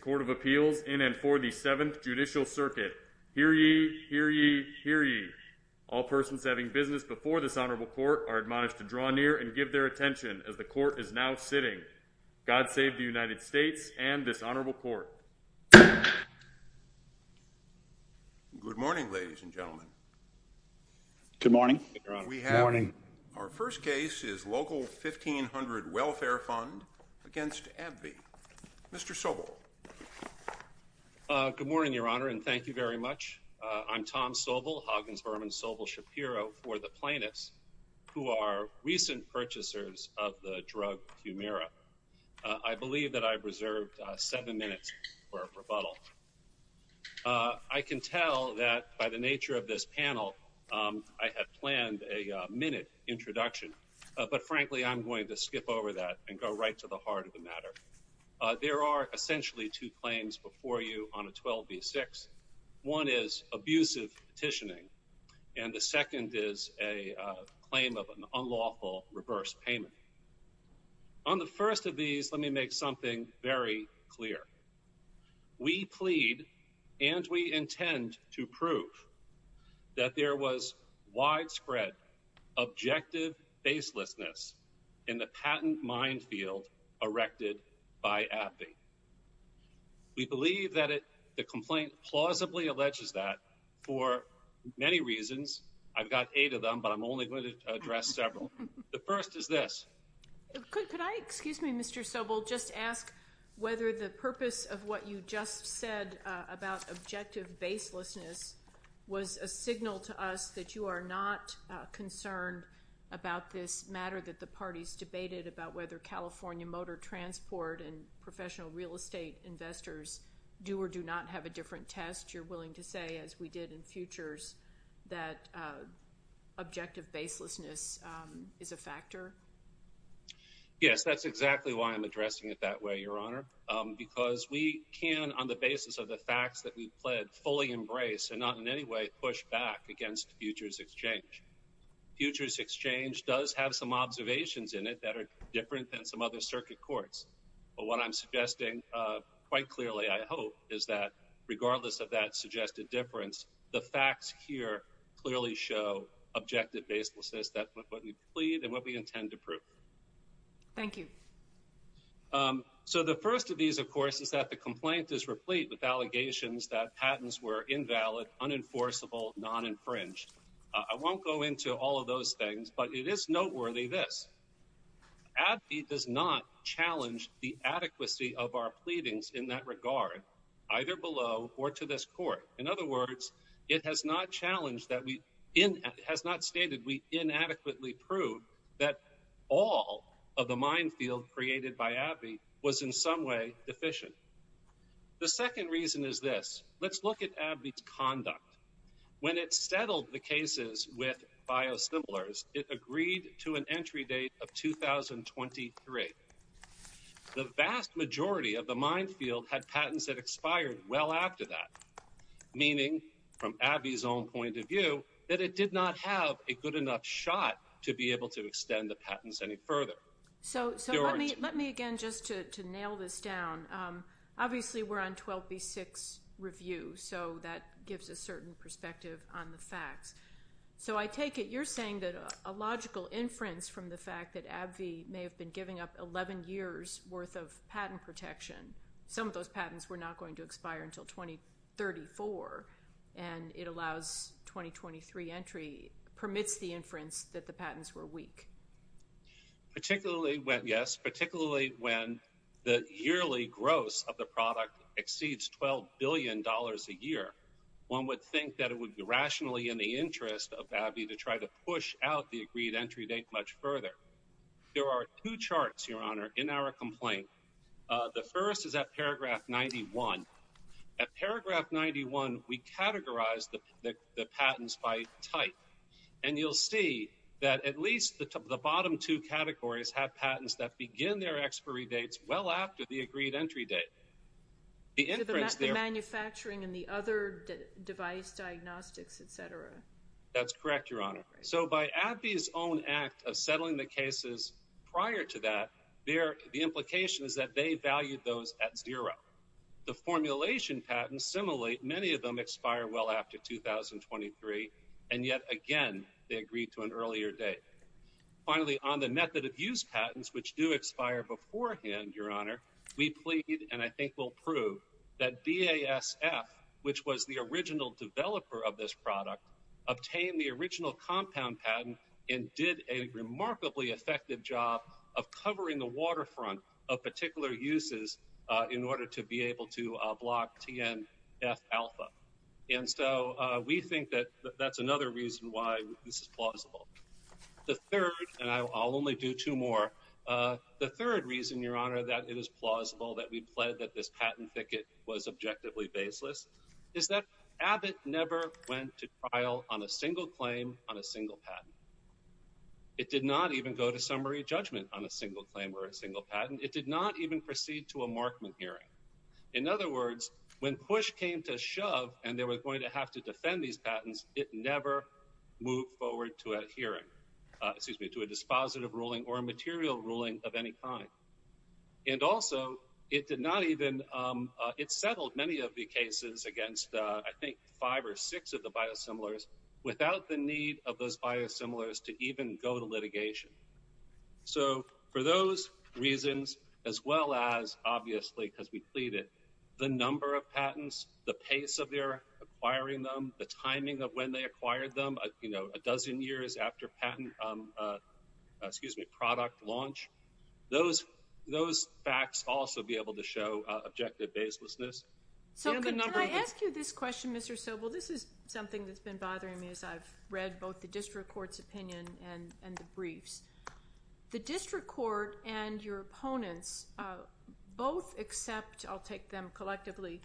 Court of Appeals in and for the 7th Judicial Circuit. Hear ye, hear ye, hear ye. All persons having business before this Honorable Court are admonished to draw near and give their attention as the Court is now sitting. God save the United States and this Honorable Court. Good morning, ladies and gentlemen. Good morning. Our first case is Local 1500 Welfare Fund against AbbVie. Mr. Sobel. Good morning, Your Honor, and thank you very much. I'm Tom Sobel, Hoggins-Berman Sobel Shapiro for the plaintiffs who are recent purchasers of the drug Humira. I believe that I've reserved seven minutes for a rebuttal. I can tell that by the nature of this panel I had planned a minute introduction, but frankly I'm going to skip over that and go right to the heart of the matter. There are essentially two claims before you on a 12 v. 6. One is abusive petitioning, and the second is a claim of an unlawful reverse payment. On the first of these, let me make something very clear. We plead and we intend to prove that there was widespread objective facelessness in the patent minefield erected by AbbVie. We believe that the complaint plausibly alleges that for many reasons. I've got eight of them, but I'm only going to address several. The first is this. Could I, excuse me, Mr. Sobel, just ask whether the purpose of what you just said about objective facelessness was a signal to us that you are not concerned about this matter that the parties debated about whether California motor transport and professional real estate investors do or do not have a different test? You're willing to say, as we did in futures, that objective facelessness is a factor? Yes, that's exactly why I'm addressing it that way, Your Honor, because we can, on the basis of the facts that we've pled, fully embrace and not in any way push back against futures exchange. Futures exchange does have some observations in it that are different than some other circuit courts. But what I'm suggesting quite clearly, I hope, is that regardless of that suggested difference, the facts here clearly show objective facelessness, what we plead and what we intend to prove. Thank you. So the first of these, of course, is that the complaint is replete with allegations that patents were invalid, unenforceable, non-infringed. I won't go into all of those things, but it is noteworthy this. AbbVie does not challenge the adequacy of our pleadings in that regard, either below or to this court. In other words, it has not challenged that we... It has not stated we inadequately proved that all of the minefield created by AbbVie was in some way deficient. The second reason is this. Let's look at AbbVie's conduct. When it settled the cases with biosimilars, it agreed to an entry date of 2023. The vast majority of the minefield had patents that expired well after that, meaning, from AbbVie's own point of view, that it did not have a good enough shot to be able to extend the patents any further. So let me again, just to nail this down, obviously we're on 12B6 review, so that gives a certain perspective on the facts. So I take it you're saying that a logical inference from the fact that AbbVie may have been giving up 11 years' worth of patent protection, some of those patents were not going to expire until 2034, and it allows 2023 entry, permits the inference that the patents were weak. Particularly when, yes, particularly when the yearly gross of the product exceeds $12 billion a year, one would think that it would be rationally in the interest of AbbVie to try to push out the agreed entry date much further. There are two charts, Your Honor, in our complaint. The first is at paragraph 91. At paragraph 91, we categorized the patents by type, and you'll see that at least the bottom two categories have patents that begin their expiry dates well after the agreed entry date. To the manufacturing and the other device diagnostics, et cetera. That's correct, Your Honor. So by AbbVie's own act of settling the cases prior to that, the implication is that they valued those at zero. The formulation patents, similarly, many of them expire well after 2023, and yet again they agreed to an earlier date. Finally, on the method of use patents, which do expire beforehand, Your Honor, we plead and I think will prove that BASF, which was the original developer of this product, obtained the original compound patent and did a remarkably effective job of covering the waterfront of particular uses in order to be able to block TNF-alpha. The third, and I'll only do two more, the third reason, Your Honor, that it is plausible that we pled that this patent ticket was objectively baseless is that Abbott never went to trial on a single claim on a single patent. It did not even go to summary judgment on a single claim or a single patent. It did not even proceed to a Markman hearing. In other words, when push came to shove and they were going to have to defend these patents, it never moved forward to a hearing, excuse me, to a dispositive ruling or a material ruling of any kind. And also, it did not even, it settled many of the cases against, I think, five or six of the biosimilars without the need of those biosimilars to even go to litigation. So for those reasons, as well as, obviously, because we plead it, the number of patents, the pace of their acquiring them, the timing of when they acquired them, you know, a dozen years after patent, excuse me, product launch, those facts also be able to show objective baselessness. Can I ask you this question, Mr. Sobel? This is something that's been bothering me as I've read both the district court's opinion and the briefs. The district court and your opponents both accept, I'll take them collectively,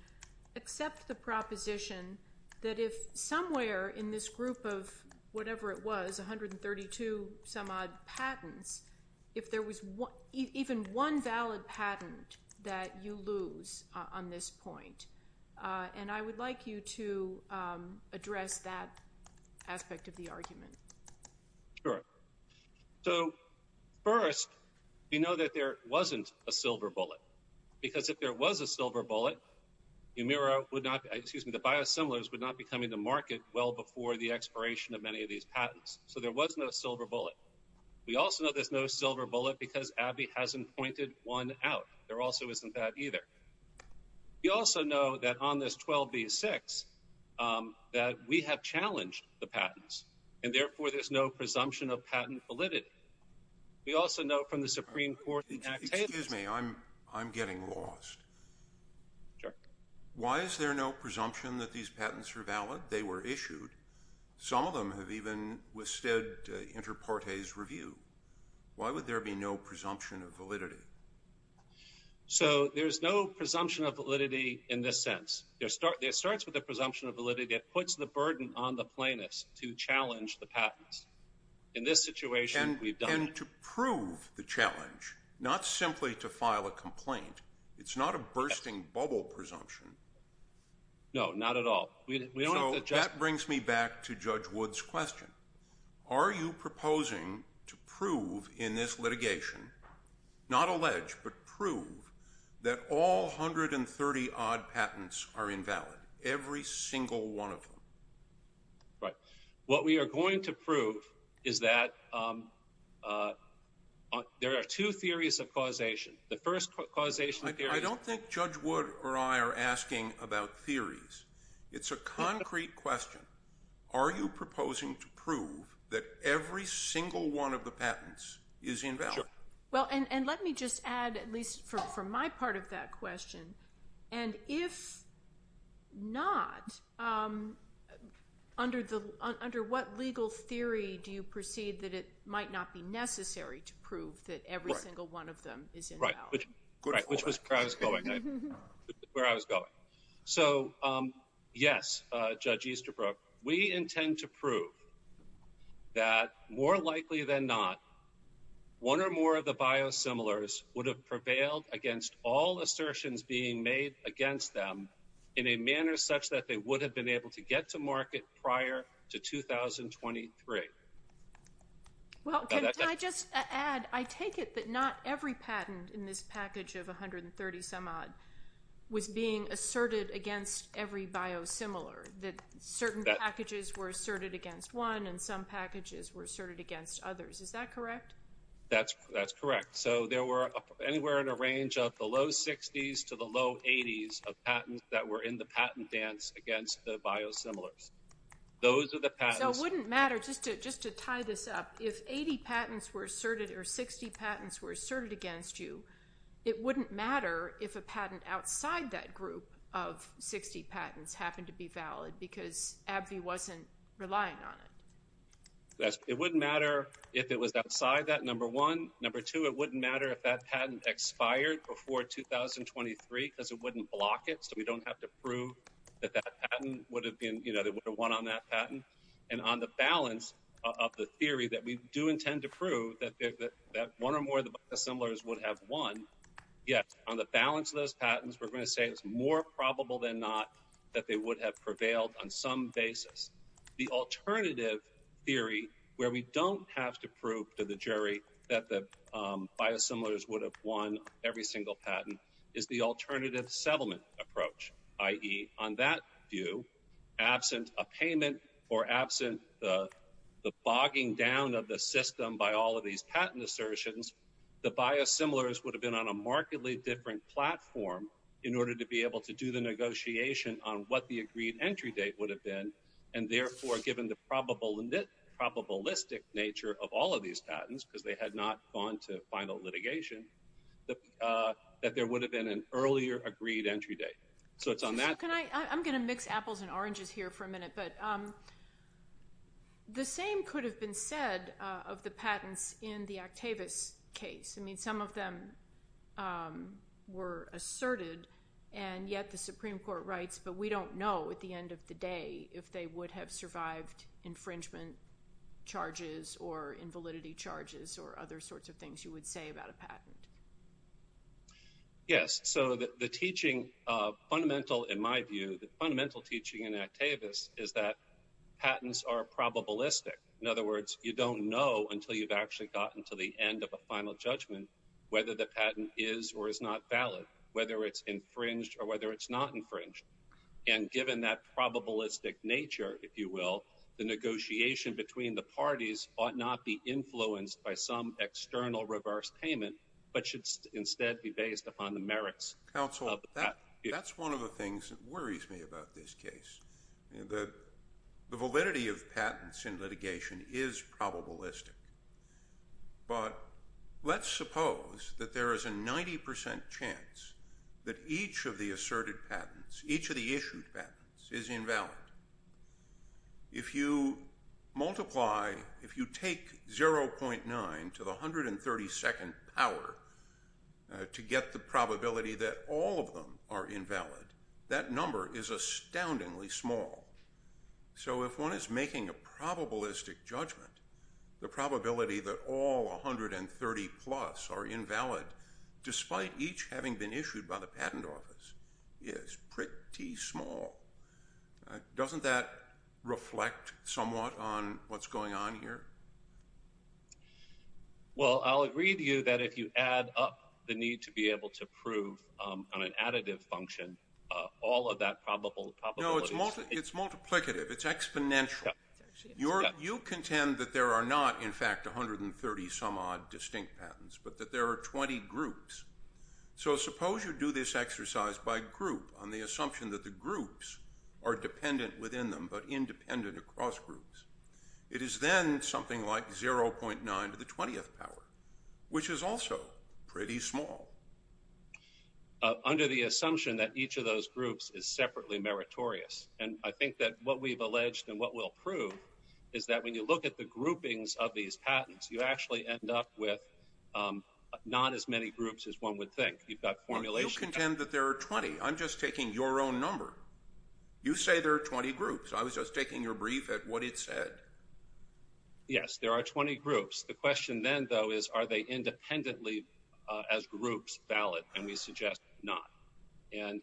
accept the proposition that if somewhere in this group of whatever it was, 132-some-odd patents, if there was even one valid patent that you lose on this point, and I would like you to address that aspect of the argument. Sure. So first, we know that there wasn't a silver bullet because if there was a silver bullet, the biosimilars would not be coming to market well before the expiration of many of these patents. So there was no silver bullet. We also know there's no silver bullet because Abby hasn't pointed one out. There also isn't that either. We also know that on this 12B-6, that we have challenged the patents, and therefore there's no presumption of patent validity. We also know from the Supreme Court... Excuse me, I'm getting lost. Why is there no presumption that these patents are valid? They were issued. Some of them have even withstood inter partes review. Why would there be no presumption of validity? So there's no presumption of validity in this sense. It starts with a presumption of validity. It puts the burden on the plaintiffs to challenge the patents. In this situation, we've done it. And to prove the challenge, not simply to file a complaint, it's not a bursting bubble presumption. No, not at all. So that brings me back to Judge Wood's question. Are you proposing to prove in this litigation, not allege, but prove, that all 130-odd patents are invalid, every single one of them? Right. What we are going to prove is that there are two theories of causation. The first causation theory... I don't think Judge Wood or I are asking about theories. It's a concrete question. Are you proposing to prove that every single one of the patents is invalid? Well, and let me just add, at least for my part of that question, and if not, under what legal theory do you proceed that it might not be necessary to prove that every single one of them is invalid? Right, which was where I was going. Where I was going. So, yes, Judge Easterbrook, we intend to prove that, more likely than not, one or more of the biosimilars would have prevailed against all assertions being made against them in a manner such that they would have been able to get to market prior to 2023. Well, can I just add, I take it that not every patent in this package of 130-some-odd was being asserted against every biosimilar, that certain packages were asserted against one and some packages were asserted against others. Is that correct? That's correct. So there were anywhere in the range of the low 60s to the low 80s of patents that were in the patent dance against the biosimilars. Those are the patents... So it wouldn't matter, just to tie this up, if 80 patents were asserted or 60 patents were asserted against you, it wouldn't matter if a patent outside that group of 60 patents happened to be valid because AbbVie wasn't relying on it. It wouldn't matter if it was outside that, number one. Number two, it wouldn't matter if that patent expired before 2023 because it wouldn't block it, so we don't have to prove that that patent would have been... you know, they would have won on that patent. And on the balance of the theory that we do intend to prove that one or more of the biosimilars would have won, yes, on the balance of those patents, we're going to say it's more probable than not that they would have prevailed on some basis. The alternative theory where we don't have to prove to the jury that the biosimilars would have won every single patent is the alternative settlement approach, i.e. on that view, absent a payment or absent the bogging down of the system by all of these patent assertions, the biosimilars would have been on a markedly different platform in order to be able to do the negotiation on what the agreed entry date would have been, and therefore, given the probabilistic nature of all of these patents, because they had not gone to final litigation, that there would have been an earlier agreed entry date. So it's on that... Can I... I'm going to mix apples and oranges here for a minute, but the same could have been said of the patents in the Octavius case. I mean, some of them were asserted, and yet the Supreme Court writes, but we don't know at the end of the day if they would have survived infringement charges or invalidity charges or other sorts of things you would say about a patent. Yes. So the teaching, fundamental in my view, the fundamental teaching in Octavius is that patents are probabilistic. In other words, you don't know until you've actually gotten to the end of a final judgment whether the patent is or is not valid, whether it's infringed or whether it's not infringed. And given that probabilistic nature, if you will, the negotiation between the parties ought not be influenced by some external reverse payment, but should instead be based upon the merits of the patent. Counsel, that's one of the things that worries me about this case. The validity of patents in litigation is probabilistic. But let's suppose that there is a 90% chance that each of the asserted patents, each of the issued patents, is invalid. If you multiply... If you take 0.9 to the 132nd power to get the probability that all of them are invalid, that number is astoundingly small. So if one is making a probabilistic judgment, the probability that all 130-plus are invalid, despite each having been issued by the patent office, is pretty small. Doesn't that reflect somewhat on what's going on here? Well, I'll agree with you that if you add up the need to be able to prove on an additive function all of that probability... No, it's multiplicative, it's exponential. You contend that there are not, in fact, 130-some-odd distinct patents, but that there are 20 groups. So suppose you do this exercise by group on the assumption that the groups are dependent within them but independent across groups. It is then something like 0.9 to the 20th power, which is also pretty small. Under the assumption that each of those groups is separately meritorious. And I think that what we've alleged and what we'll prove is that when you look at the groupings of these patents, you actually end up with not as many groups as one would think. You contend that there are 20. I'm just taking your own number. You say there are 20 groups. I was just taking your brief at what it said. Yes, there are 20 groups. The question then, though, is are they independently, as groups, valid? And we suggest not. And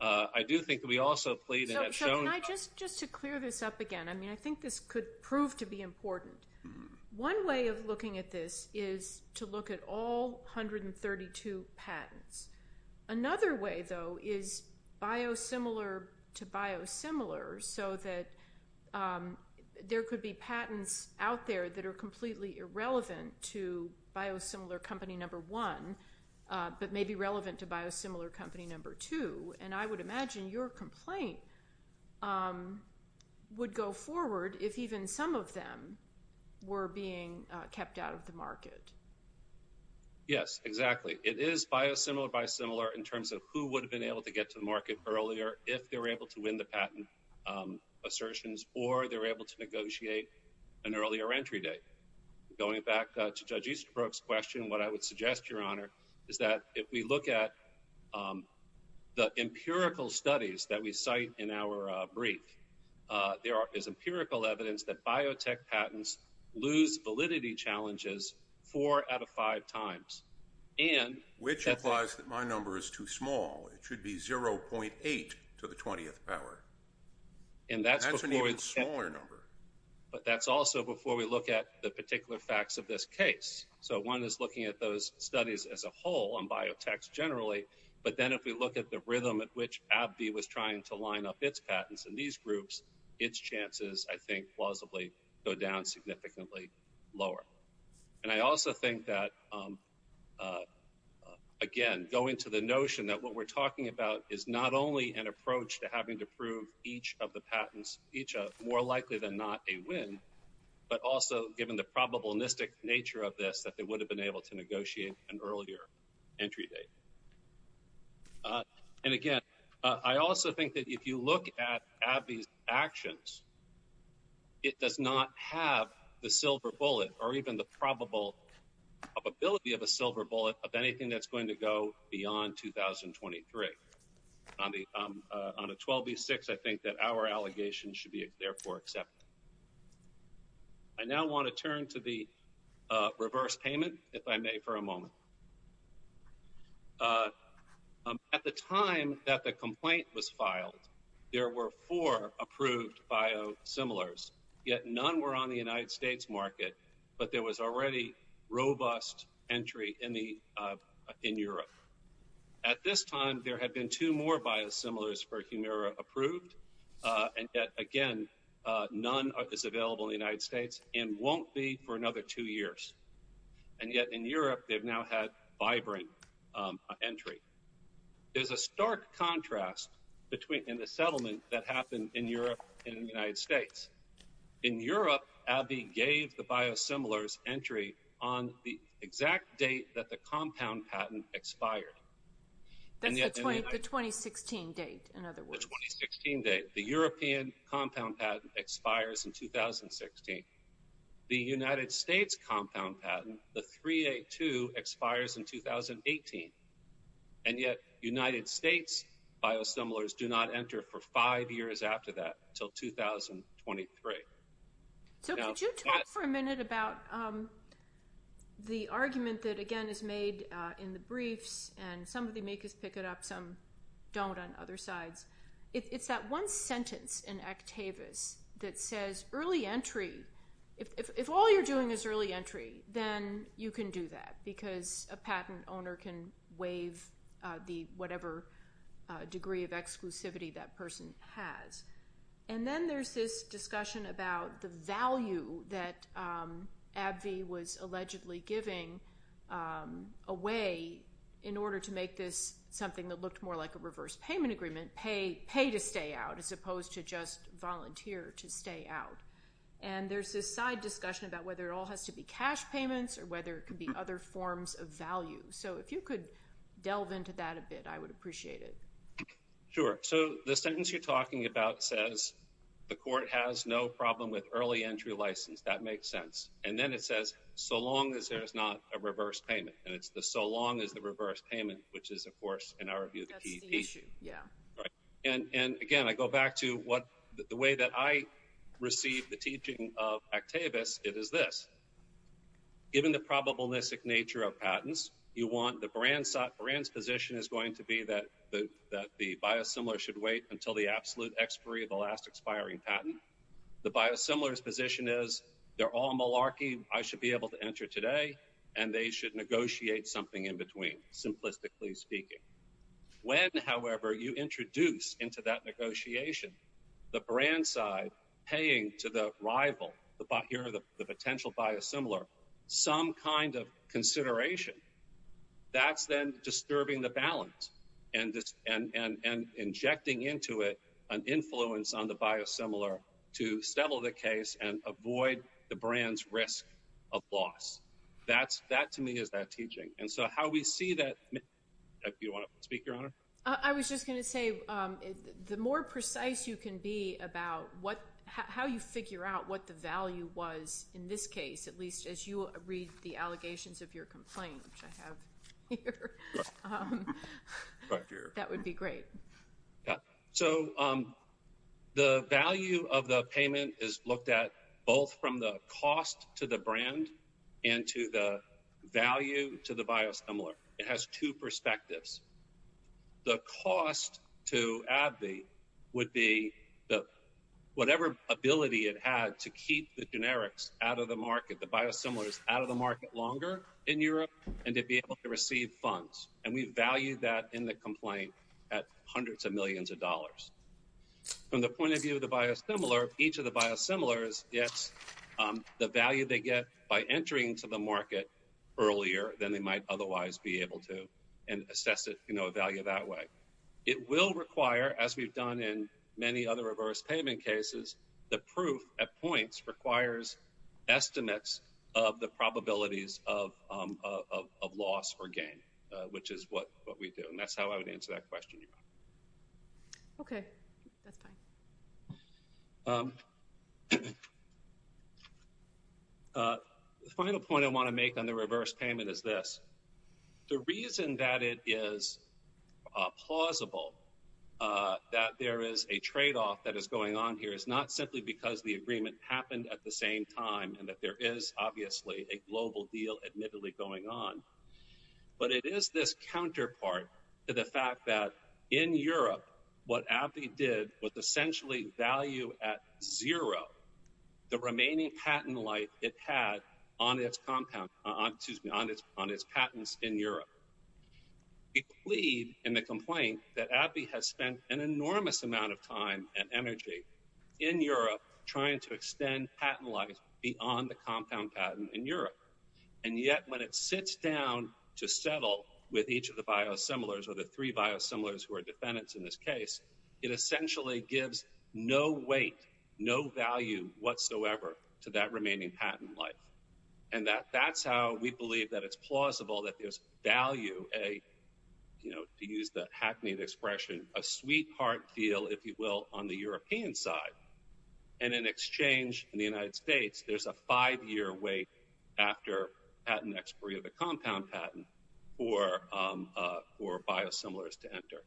I do think that we also plead and have shown... Just to clear this up again, I mean, I think this could prove to be important. One way of looking at this is to look at all 132 patents. Another way, though, is biosimilar to biosimilar so that there could be patents out there that are completely irrelevant to biosimilar company number one but may be relevant to biosimilar company number two. And I would imagine your complaint would go forward if even some of them were being kept out of the market. Yes, exactly. It is biosimilar to biosimilar in terms of who would have been able to get to the market earlier if they were able to win the patent assertions or they were able to negotiate an earlier entry date. Going back to Judge Easterbrook's question, what I would suggest, Your Honour, is that if we look at the empirical studies that we cite in our brief, there is empirical evidence that biotech patents lose validity challenges four out of five times. Which implies that my number is too small. It should be 0.8 to the 20th power. That's an even smaller number. But that's also before we look at the particular facts of this case. So one is looking at those studies as a whole on biotechs generally, but then if we look at the rhythm at which AbbVie was trying to line up its patents in these groups, its chances, I think, plausibly, go down significantly lower. And I also think that, again, going to the notion that what we're talking about is not only an approach to having to prove each of the patents, more likely than not a win, but also given the probabilistic nature of this, that they would have been able to negotiate an earlier entry date. And, again, I also think that if you look at AbbVie's actions, it does not have the silver bullet or even the probable probability of a silver bullet of anything that's going to go beyond 2023. On a 12B6, I think that our allegation should be therefore accepted. I now want to turn to the reverse payment, if I may, for a moment. At the time that the complaint was filed, there were four approved biosimilars, yet none were on the United States market, but there was already robust entry in Europe. At this time, there had been two more biosimilars for Humira approved, and yet, again, none is available in the United States and won't be for another two years. And yet, in Europe, they've now had vibrant entry. There's a stark contrast in the settlement that happened in Europe and the United States. In Europe, AbbVie gave the biosimilars entry on the exact date that the compound patent expired. That's the 2016 date, in other words. The 2016 date. The European compound patent expires in 2016. The United States compound patent, the 3A2, expires in 2018. And yet, United States biosimilars do not enter for five years after that until 2023. So could you talk for a minute about the argument that, again, is made in the briefs, and some of the amicus pick it up, some don't on other sides. It's that one sentence in Actavis that says, early entry, if all you're doing is early entry, then you can do that because a patent owner can waive the whatever degree of exclusivity that person has. And then there's this discussion about the value that AbbVie was allegedly giving away in order to make this something that looked more like a reverse payment agreement, pay to stay out, as opposed to just volunteer to stay out. And there's this side discussion about whether it all has to be cash payments or whether it could be other forms of value. So if you could delve into that a bit, I would appreciate it. Sure. So the sentence you're talking about says, the court has no problem with early entry license. That makes sense. And then it says, so long as there is not a reverse payment. And it's the so long as the reverse payment, which is, of course, in our view, the key issue. And again, I go back to the way that I received the teaching of Actavis. It is this. Given the probabilistic nature of patents, the brand's position is going to be that the biosimilar should wait until the absolute expiry of the last expiring patent. The biosimilar's position is, they're all malarkey. I should be able to enter today. And they should negotiate something in between, simplistically speaking. When, however, you introduce into that negotiation the brand side paying to the rival, here are the potential biosimilar, some kind of consideration, that's then disturbing the balance and injecting into it an influence on the biosimilar to settle the case and avoid the brand's risk of loss. That, to me, is that teaching. And so how we see that. Do you want to speak, Your Honor? I was just going to say, the more precise you can be about how you figure out what the value was, in this case, at least as you read the allegations of your complaint, which I have here, that would be great. So the value of the payment is looked at both from the cost to the brand and to the value to the biosimilar. It has two perspectives. The cost to AbbVie would be whatever ability it had to keep the generics out of the market, the biosimilars out of the market longer in Europe, and to be able to receive funds. And we value that in the complaint at hundreds of millions of dollars. From the point of view of the biosimilar, each of the biosimilars gets the value they get by entering into the market earlier than they might otherwise be able to, and assess the value that way. It will require, as we've done in many other reverse payment cases, the proof at points requires estimates of the probabilities of loss or gain, which is what we do. And that's how I would answer that question, Your Honor. OK. That's fine. The final point I want to make on the reverse payment is this. The reason that it is plausible that there is a trade-off that is going on here is not simply because the agreement happened at the same time and that there is, obviously, a global deal admittedly going on. But it is this counterpart to the fact that in Europe, what AbbVie did was essentially value at zero the remaining patent life it had on its compounds, excuse me, on its patents in Europe. We plead in the complaint that AbbVie has spent an enormous amount of time and energy in Europe trying to extend patent life beyond the compound patent in Europe. And yet, when it sits down to settle with each of the biosimilars or the three biosimilars who are defendants in this case, it essentially gives no weight, no value whatsoever to that remaining patent life. And that's how we believe that it's plausible that there's value, to use the hackneyed expression, a sweetheart feel, if you will, on the European side. And in exchange, in the United States, there's a five-year wait after patent expiry of the compound patent for biosimilars to enter.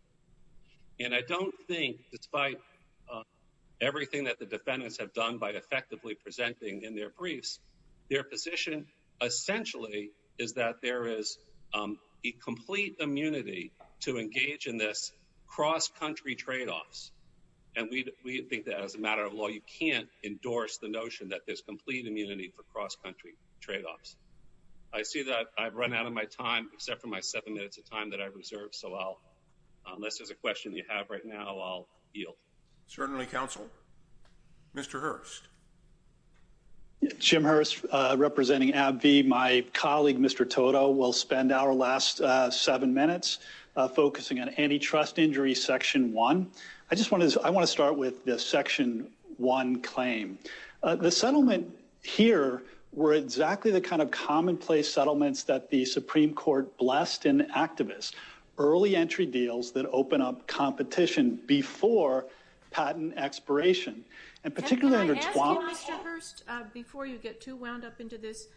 And I don't think, despite everything that the defendants have done by effectively presenting in their briefs, their position essentially is that there is a complete immunity to engage in this cross-country trade-offs. And we think that as a matter of law, you can't endorse the notion that there's And I don't see that. I've run out of my time, except for my seven minutes of time that I've reserved. So unless there's a question you have right now, I'll yield. Certainly, counsel. Mr. Hurst. Jim Hurst, representing AbbVie. My colleague, Mr. Toto, will spend our last seven minutes focusing on antitrust injury, section one. I just want to start with the section one claim. The settlement here were exactly the kind of commonplace settlements that the Supreme Court blessed in activists, early entry deals that open up competition before patent expiration. And particularly under Twombly. Can I ask you, Mr. Hurst, before you get too wound up into this,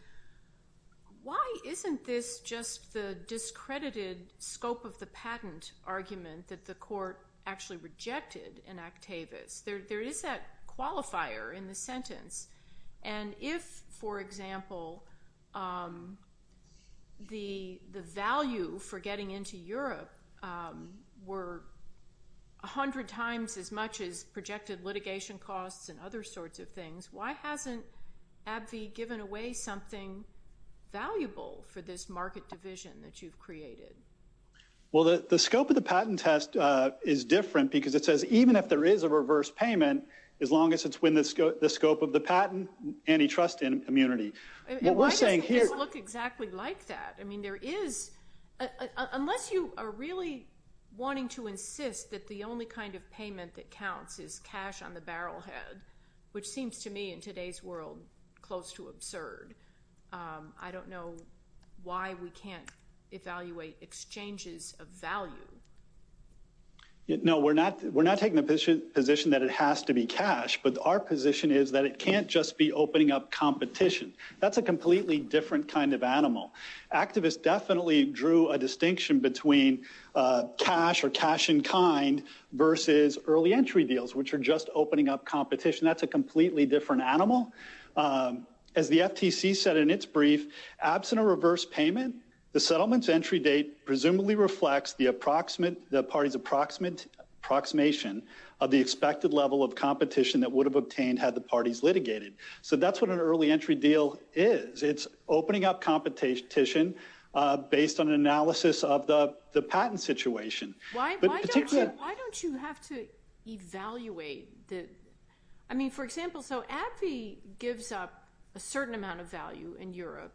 why isn't this just the discredited scope of the patent argument that the court actually rejected in Actavis? There is that qualifier in the sentence. And if, for example, the value for getting into Europe were 100 times as much as projected litigation costs and other sorts of things, why hasn't AbbVie given away something valuable for this market division that you've created? Well, the scope of the patent test is different because it says even if there is a reverse payment, as long as it's within the scope of the patent antitrust immunity. Why doesn't this look exactly like that? Unless you are really wanting to insist that the only kind of payment that counts is cash on the barrel head, which seems to me in today's world close to absurd. I don't know why we can't evaluate exchanges of value. No. We're not taking the position that it has to be cash. But our position is that it can't just be opening up competition. That's a completely different kind of animal. Actavis definitely drew a distinction between cash or cash in kind versus early entry deals, which are just opening up competition. That's a completely different animal. As the FTC said in its brief, absent a reverse payment, the settlement's entry date presumably reflects the party's approximation of the expected level of competition that would have obtained had the parties litigated. So that's what an early entry deal is. It's opening up competition based on an analysis of the patent situation. Why don't you have to evaluate? I mean, for example, so AbbVie gives up a certain amount of value in Europe.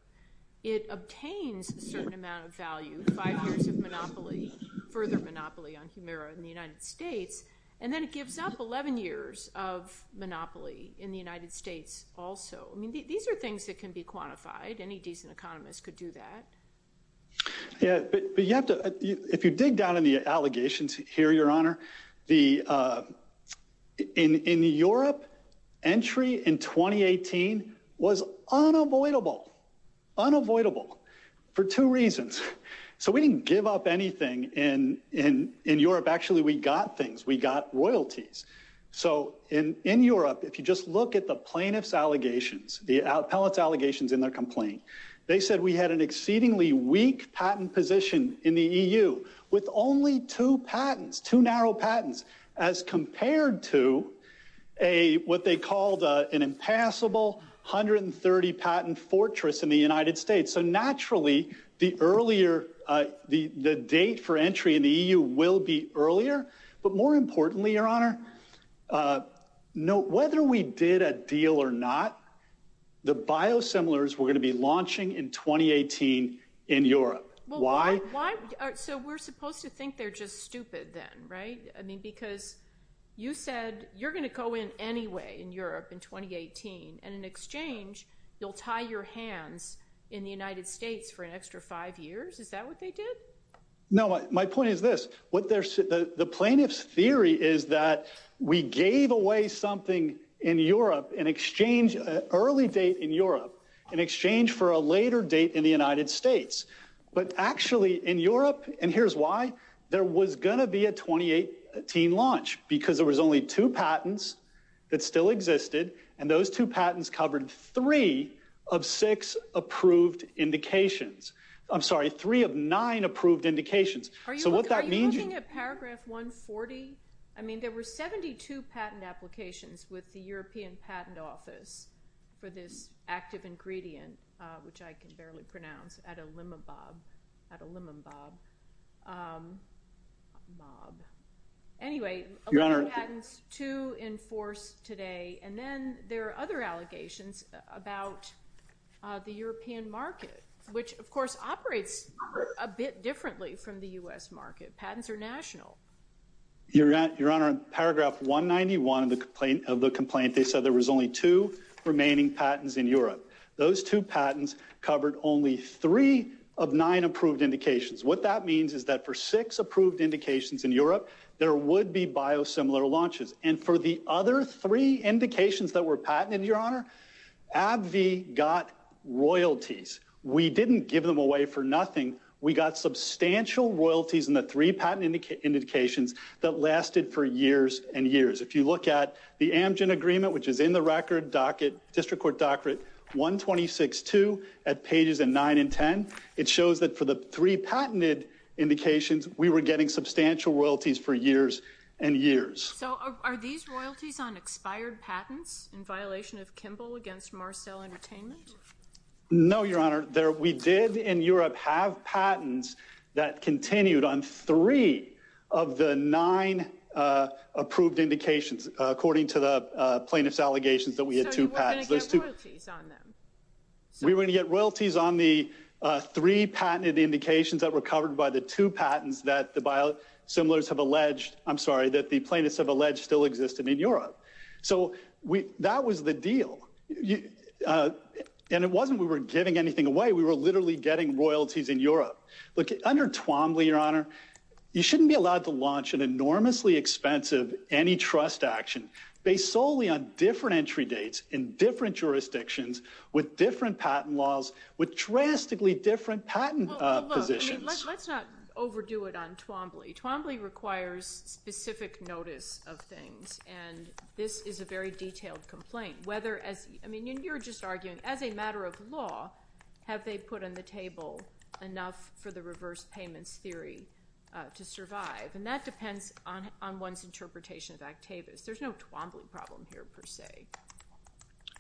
It obtains a certain amount of value, five years of monopoly, further monopoly on Humira in the United States. And then it gives up 11 years of monopoly in the United States also. These are things that can be quantified. Any decent economist could do that. But if you dig down in the allegations here, Your Honor, in Europe, entry in 2018 was unavoidable. Unavoidable for two reasons. So we didn't give up anything in Europe. Actually, we got things. We got royalties. So in Europe, if you just look at the plaintiff's allegations, the appellate's allegations in their complaint, they said we had an exceedingly weak patent position in the EU with only two narrow patents as compared to what they called an impassable 130 patent fortress in the United States. So naturally, the date for entry in the EU will be earlier. But more importantly, Your Honor, whether we did a deal or not, the biosimilars were going to be launching in 2018 in Europe. Why? So we're supposed to think they're just stupid then, right? I mean, because you said you're going to go in anyway in Europe in 2018. And in exchange, you'll tie your hands in the United States for an extra five years? Is that what they did? No, my point is this. The plaintiff's theory is that we gave away something in Europe in exchange, early date in Europe, in exchange for a later date in the United States. But actually, in Europe, and here's why, there was going to be a 2018 launch because there was only two patents that still existed. And those two patents covered three of six approved indications. I'm sorry, three of nine approved indications. So what that means is- Are you looking at paragraph 140? I mean, there were 72 patent applications with the European Patent Office for this active ingredient, which I can barely pronounce, Adalimumab, Adalimumab, mob. Anyway, a lot of patents, two in force today. And then there are other allegations about the European market, which, of course, operates a bit differently from the US market. Patents are national. Your Honor, in paragraph 191 of the complaint, they said there was only two remaining patents in Europe. Those two patents covered only three of nine approved indications. What that means is that for six approved indications in Europe, there would be biosimilar launches. And for the other three indications that were patented, Your Honor, AbbVie got royalties. We didn't give them away for nothing. We got substantial royalties in the three patent indications that lasted for years and years. If you look at the Amgen Agreement, which is in the record docket, District Court docket, 126-2 at pages 9 and 10, it shows that for the three patented indications, we were getting substantial royalties for years and years. So are these royalties on expired patents in violation of Kimball against Marcell Entertainment? No, Your Honor. We did in Europe have patents that continued on three of the nine approved indications, according to the plaintiff's allegations that we had two patents. So you were going to get royalties on them? We were going to get royalties on the three patented indications that were covered by the two patents that the biosimilars have alleged... I'm sorry, that the plaintiffs have alleged still existed in Europe. So that was the deal. And it wasn't we were giving anything away. We were literally getting royalties in Europe. Look, under Twombly, Your Honor, you shouldn't be allowed to launch an enormously expensive antitrust action based solely on different entry dates in different jurisdictions with different patent laws with drastically different patent positions. Well, look, let's not overdo it on Twombly. Twombly requires specific notice of things, and this is a very detailed complaint. I mean, you're just arguing as a matter of law, have they put on the table enough for the reverse payments theory to survive? And that depends on one's interpretation of Actavis. There's no Twombly problem here, per se.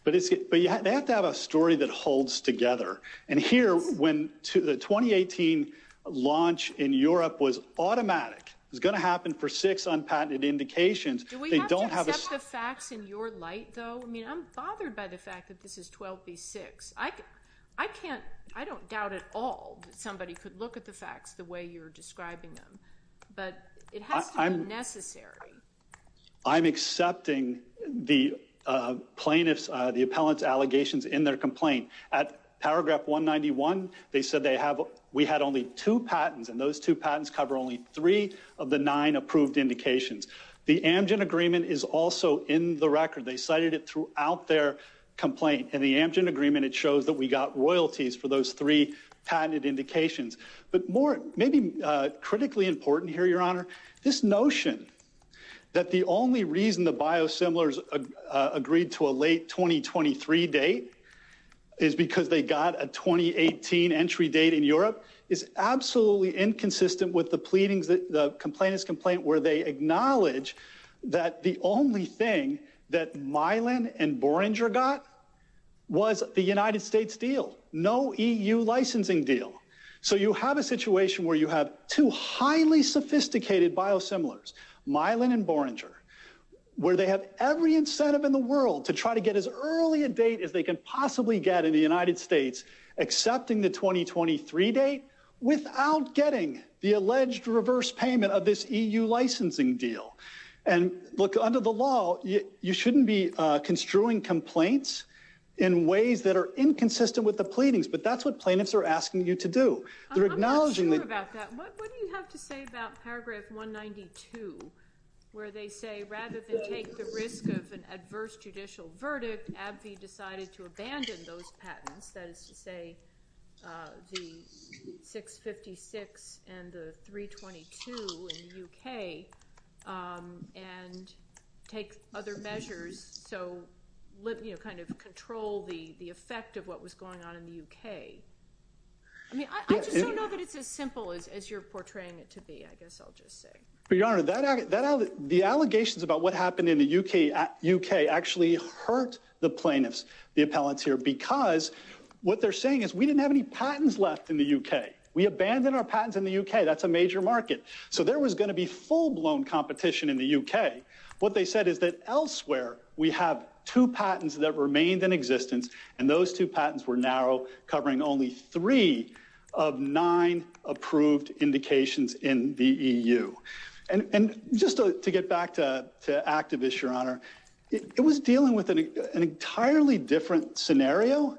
But they have to have a story that holds together. And here, when the 2018 launch in Europe was automatic, it was going to happen for six unpatented indications. Do we have to accept the facts in your light, though? I mean, I'm bothered by the fact that this is 12B6. I can't... I don't doubt at all that somebody could look at the facts the way you're describing them. But it has to be necessary. I'm accepting the plaintiff's... the appellant's allegations in their complaint. At paragraph 191, they said they have... we had only two patents, and those two patents cover only three of the nine approved indications. The Amgen Agreement is also in the record. They cited it throughout their complaint. In the Amgen Agreement, it shows that we got royalties for those three patented indications. But more... maybe critically important here, Your Honour, this notion that the only reason the biosimilars agreed to a late 2023 date is because they got a 2018 entry date in Europe is absolutely inconsistent with the pleadings... the complainant's complaint where they acknowledge that the only thing that Mylan and Borenger got was the United States deal. No EU licensing deal. So you have a situation where you have two highly sophisticated biosimilars, Mylan and Borenger, where they have every incentive in the world to try to get as early a date as they can possibly get in the United States, accepting the 2023 date, without getting the alleged reverse payment of this EU licensing deal. And, look, under the law, you shouldn't be construing complaints in ways that are inconsistent with the pleadings, but that's what plaintiffs are asking you to do. They're acknowledging... I'm not sure about that. What do you have to say about paragraph 192, where they say rather than take the risk of an adverse judicial verdict, AbbVie decided to abandon those patents, that is to say the 656 and the 322 in the UK, and take other measures, so kind of control the effect of what was going on in the UK. I mean, I just don't know that it's as simple as you're portraying it to be, I guess I'll just say. Your Honor, the allegations about what happened in the UK actually hurt the plaintiffs, the appellants here, because what they're saying is we didn't have any patents left in the UK. We abandoned our patents in the UK. That's a major market. So there was going to be full-blown competition in the UK. What they said is that elsewhere we have two patents that remained in existence, and those two patents were narrow, covering only three of nine approved indications in the EU. And just to get back to Activist, Your Honor, it was dealing with an entirely different scenario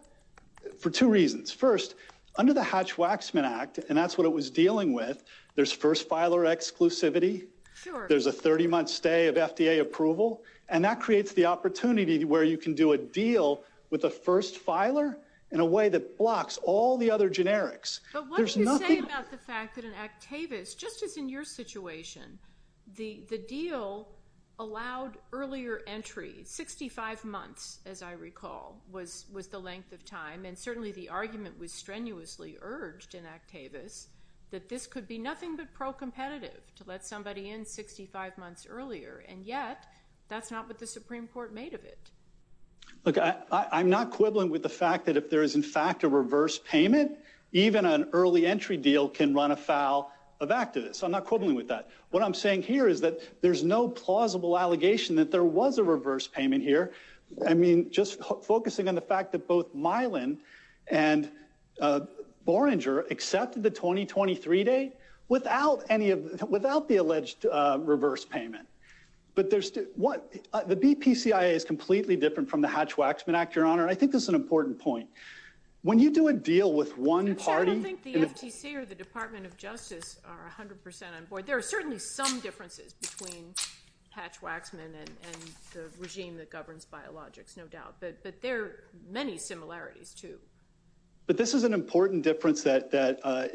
for two reasons. First, under the Hatch-Waxman Act, and that's what it was dealing with, there's first filer exclusivity, there's a 30-month stay of FDA approval, and that creates the opportunity where you can do a deal with the first filer in a way that blocks all the other generics. But what do you say about the fact that in Activist, just as in your situation, the deal allowed earlier entry, 65 months, as I recall, was the length of time, and certainly the argument was strenuously urged in Activist that this could be nothing but pro-competitive, to let somebody in 65 months earlier, and yet, that's not what the Supreme Court made of it. Look, I'm not quibbling with the fact that if there is, in fact, a reverse payment, even an early entry deal can run afoul of Activist. I'm not quibbling with that. What I'm saying here is that there's no plausible allegation that there was a reverse payment here. I mean, just focusing on the fact that both Mylan and Borenger accepted the 2023 date without the alleged reverse payment. But the BPCIA is completely different from the Hatch-Waxman Act, Your Honor, and I think this is an important point. When you do a deal with one party... I don't think the FTC or the Department of Justice are 100% on board. There are certainly some differences between Hatch-Waxman and the regime that governs biologics, no doubt, but there are many similarities, too. But this is an important difference that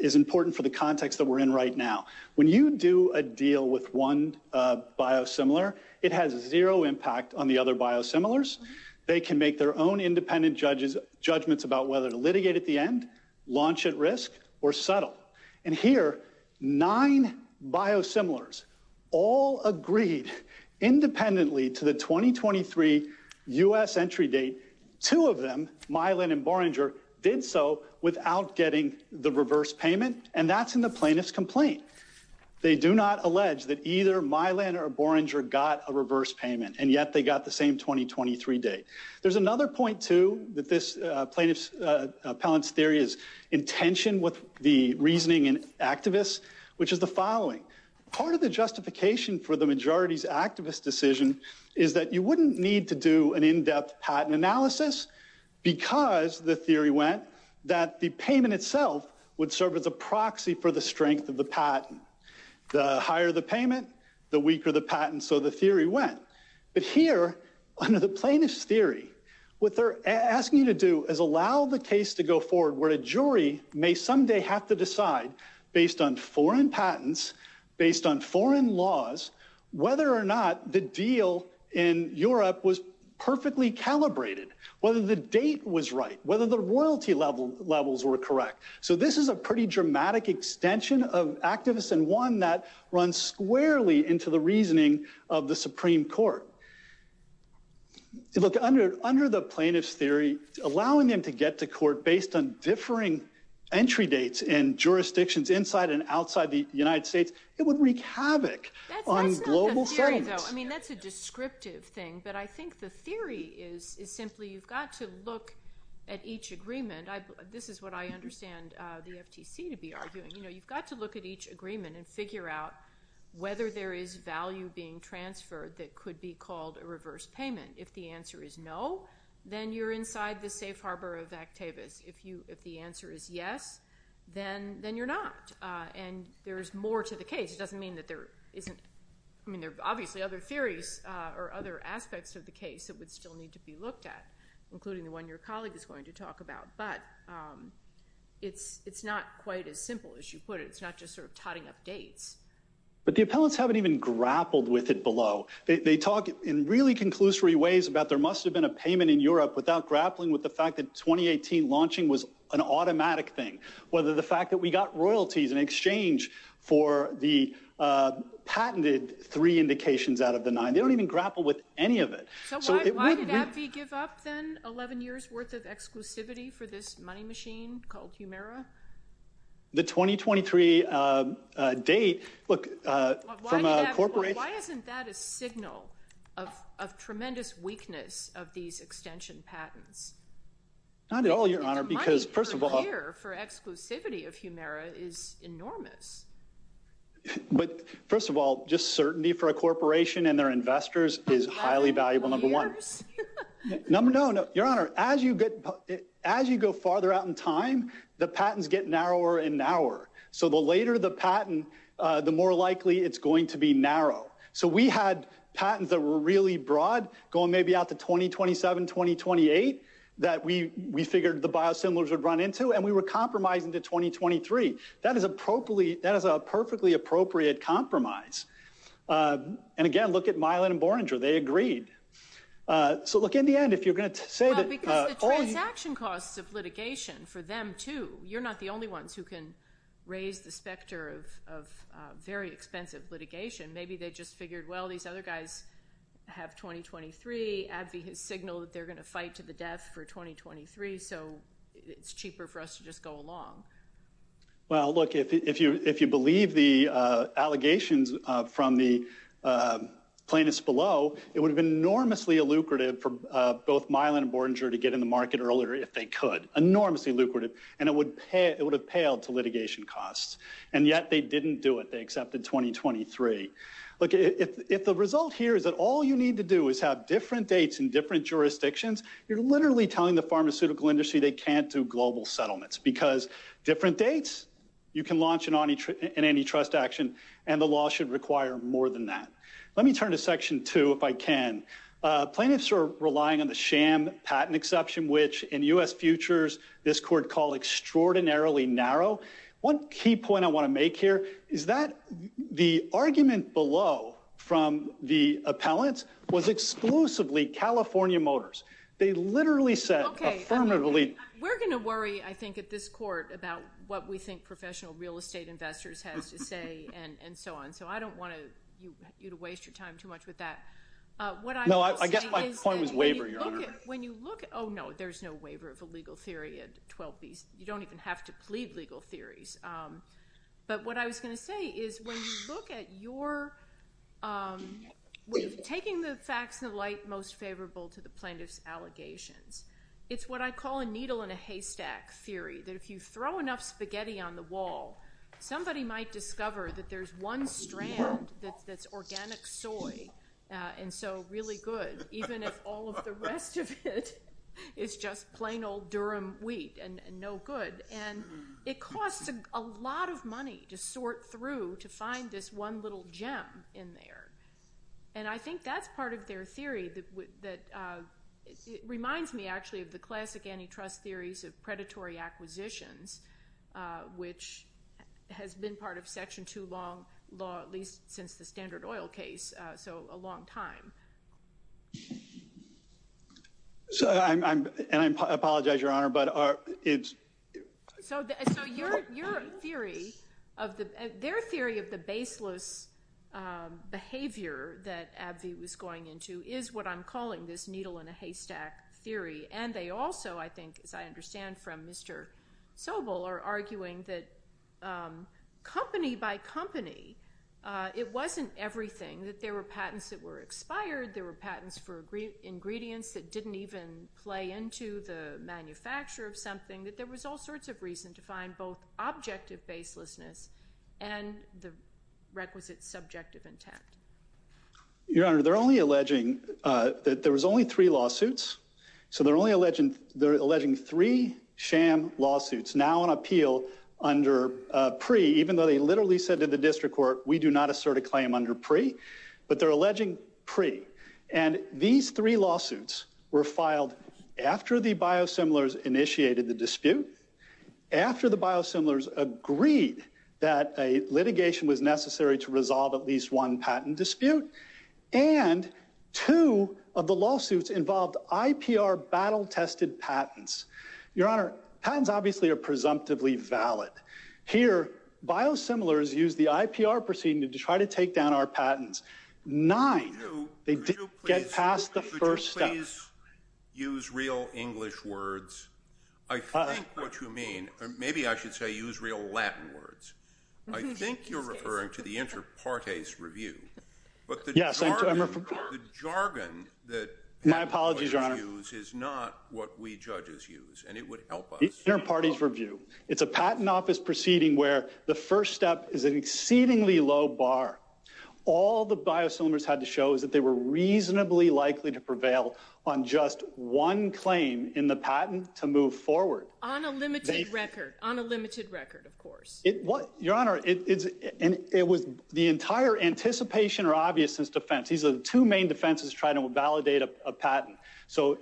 is important for the context that we're in right now. When you do a deal with one biosimilar, it has zero impact on the other biosimilars. They can make their own independent judgments about whether to litigate at the end, launch at risk, or settle. And here, nine biosimilars all agreed independently to the 2023 U.S. entry date. Two of them, Mylan and Borenger, did so without getting the reverse payment, and that's in the plaintiff's complaint. They do not allege that either Mylan or Borenger got a reverse payment, and yet they got the same 2023 date. There's another point, too, that this plaintiff's... appellant's theory is in tension with the reasoning in activists, which is the following. Part of the justification for the majority's activist decision is that you wouldn't need to do an in-depth patent analysis because, the theory went, that the payment itself would serve as a proxy for the strength of the patent. The higher the payment, the weaker the patent, so the theory went. But here, under the plaintiff's theory, what they're asking you to do is allow the case to go forward where a jury may someday have to decide, based on foreign patents, based on foreign laws, whether or not the deal in Europe was perfectly calibrated, whether the date was right, whether the royalty levels were correct. So this is a pretty dramatic extension of activists and one that runs squarely into the reasoning of the Supreme Court. Look, under the plaintiff's theory, allowing them to get to court based on differing entry dates in jurisdictions inside and outside the United States, it would wreak havoc on global fairness. I mean, that's a descriptive thing, but I think the theory is simply, you've got to look at each agreement. This is what I understand the FTC to be arguing. You've got to look at each agreement and figure out whether there is value being transferred that could be called a reverse payment. If the answer is no, then you're inside the safe harbor of activists. If the answer is yes, then you're not. And there's more to the case. It doesn't mean that there isn't... I mean, there are obviously other theories or other aspects of the case that would still need to be looked at, including the one your colleague is going to talk about, but it's not quite as simple as you put it. It's not just sort of totting up dates. But the appellants haven't even grappled with it below. They talk in really conclusory ways about there must have been a payment in Europe without grappling with the fact that 2018 launching was an automatic thing, whether the fact that we got royalties in exchange for the patented three indications out of the nine. They don't even grapple with any of it. So why did AbbVie give up, then, 11 years' worth of exclusivity for this money machine called Humira? The 2023 date... Look, from a corporation... Why isn't that a signal of tremendous weakness of these extension patents? Not at all, Your Honour, because, first of all... But, first of all, just certainty for a corporation and their investors is highly valuable, number one. No, no, Your Honour. As you go farther out in time, the patents get narrower and narrower. So the later the patent, the more likely it's going to be narrow. So we had patents that were really broad, going maybe out to 2027, 2028, that we figured the biosimilars would run into, and we were compromising to 2023. That is a perfectly appropriate compromise. And, again, look at Mylan and Borenger. They agreed. So, look, in the end, if you're going to say that... Well, because the transaction costs of litigation, for them, too... You're not the only ones who can raise the specter of very expensive litigation. Maybe they just figured, well, these other guys have 2023. AbbVie has signaled that they're going to fight to the death for 2023, so it's cheaper for us to just go along. Well, look, if you believe the allegations from the plaintiffs below, it would have been enormously lucrative for both Mylan and Borenger to get in the market earlier if they could. Enormously lucrative. And it would have paled to litigation costs. And yet they didn't do it. They accepted 2023. Look, if the result here is that all you need to do is have different dates in different jurisdictions, you're literally telling the pharmaceutical industry they can't do global settlements because different dates, you can launch an antitrust action, and the law should require more than that. Let me turn to Section 2, if I can. Plaintiffs are relying on the sham patent exception, which, in U.S. futures, this court called extraordinarily narrow. One key point I want to make here is that the argument below from the appellants was exclusively California Motors. They literally said affirmatively... We're going to worry, I think, at this court about what we think professional real estate investors has to say and so on. So I don't want you to waste your time too much with that. What I will say is... No, I guess my point was waiver, Your Honor. Oh, no, there's no waiver of a legal theory at 12B. You don't even have to plead legal theories. But what I was going to say is when you look at your... Taking the facts in the light most favorable to the plaintiff's allegations, it's what I call a needle in a haystack theory, that if you throw enough spaghetti on the wall, somebody might discover that there's one strand that's organic soy and so really good, even if all of the rest of it is just plain old Durham wheat and no good. And it costs a lot of money to sort through to find this one little gem in there. And I think that's part of their theory that reminds me actually of the classic antitrust theories of predatory acquisitions, which has been part of Section 2 law at least since the Standard Oil case, so a long time. And I apologize, Your Honor, but it's... So your theory of the... Their theory of the baseless behavior that Abvie was going into is what I'm calling this needle in a haystack theory. And they also, I think, as I understand from Mr. Sobel, are arguing that company by company, it wasn't everything, that there were patents that were expired, there were patents for ingredients that didn't even play into the manufacture of something, that there was all sorts of reason to find both objective baselessness and the requisite subjective intent. Your Honor, they're only alleging that there was only three lawsuits. So they're only alleging three sham lawsuits, now on appeal under PRE, even though they literally said to the district court, we do not assert a claim under PRE, but they're alleging PRE. And these three lawsuits were filed after the biosimilars initiated the dispute, after the biosimilars agreed that a litigation was necessary to resolve at least one patent dispute. And two of the lawsuits involved IPR battle-tested patents. Your Honor, patents obviously are presumptively valid. Here, biosimilars used the IPR proceeding to try to take down our patents. Nine, they didn't get past the first step. Could you please use real English words? I think what you mean, or maybe I should say use real Latin words. I think you're referring to the inter partes review, but the jargon that... My apologies, Your Honor. ...is not what we judges use, and it would help us. The inter partes review. It's a patent office proceeding where the first step is an exceedingly low bar. All the biosimilars had to show is that they were reasonably likely to prevail on just one claim in the patent to move forward. On a limited record, on a limited record, of course. Your Honor, it was the entire anticipation or obviousness defense. These are the two main defenses to try to validate a patent. So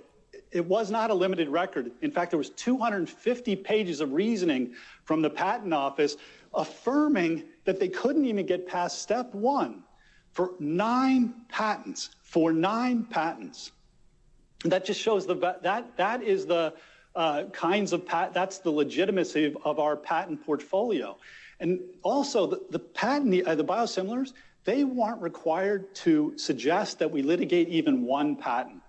it was not a limited record. In fact, there was 250 pages of reasoning from the patent office affirming that they couldn't even get past step one for nine patents, for nine patents. That just shows the... That is the kinds of... That's the legitimacy of our patent portfolio. And also, the biosimilars, they weren't required to suggest that we litigate even one patent.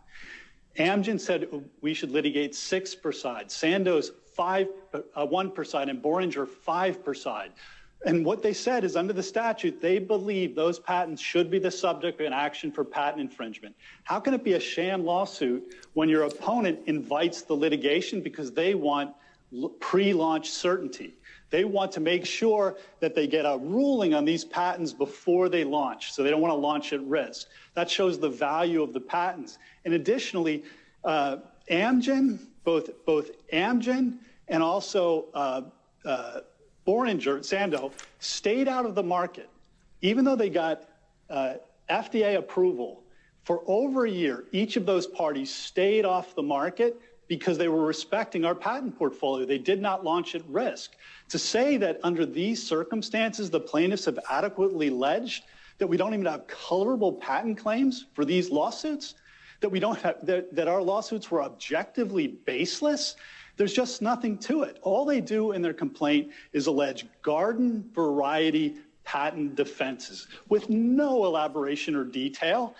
Amgen said we should litigate six per side. Sandoz, one per side. And Boringer, five per side. And what they said is under the statute, they believe those patents should be the subject of an action for patent infringement. How can it be a sham lawsuit when your opponent invites the litigation because they want pre-launch certainty? They want to make sure that they get a ruling on these patents before they launch, so they don't want to launch at risk. That shows the value of the patents. And additionally, Amgen, both Amgen and also Boringer, Sandoz, stayed out of the market, even though they got FDA approval. For over a year, each of those parties stayed off the market because they were respecting our patent portfolio. They did not launch at risk. To say that under these circumstances, the plaintiffs have adequately alleged that we don't even have colorable patent claims for these lawsuits, that our lawsuits were objectively baseless, there's just nothing to it. All they do in their complaint is allege garden-variety patent defenses with no elaboration or detail.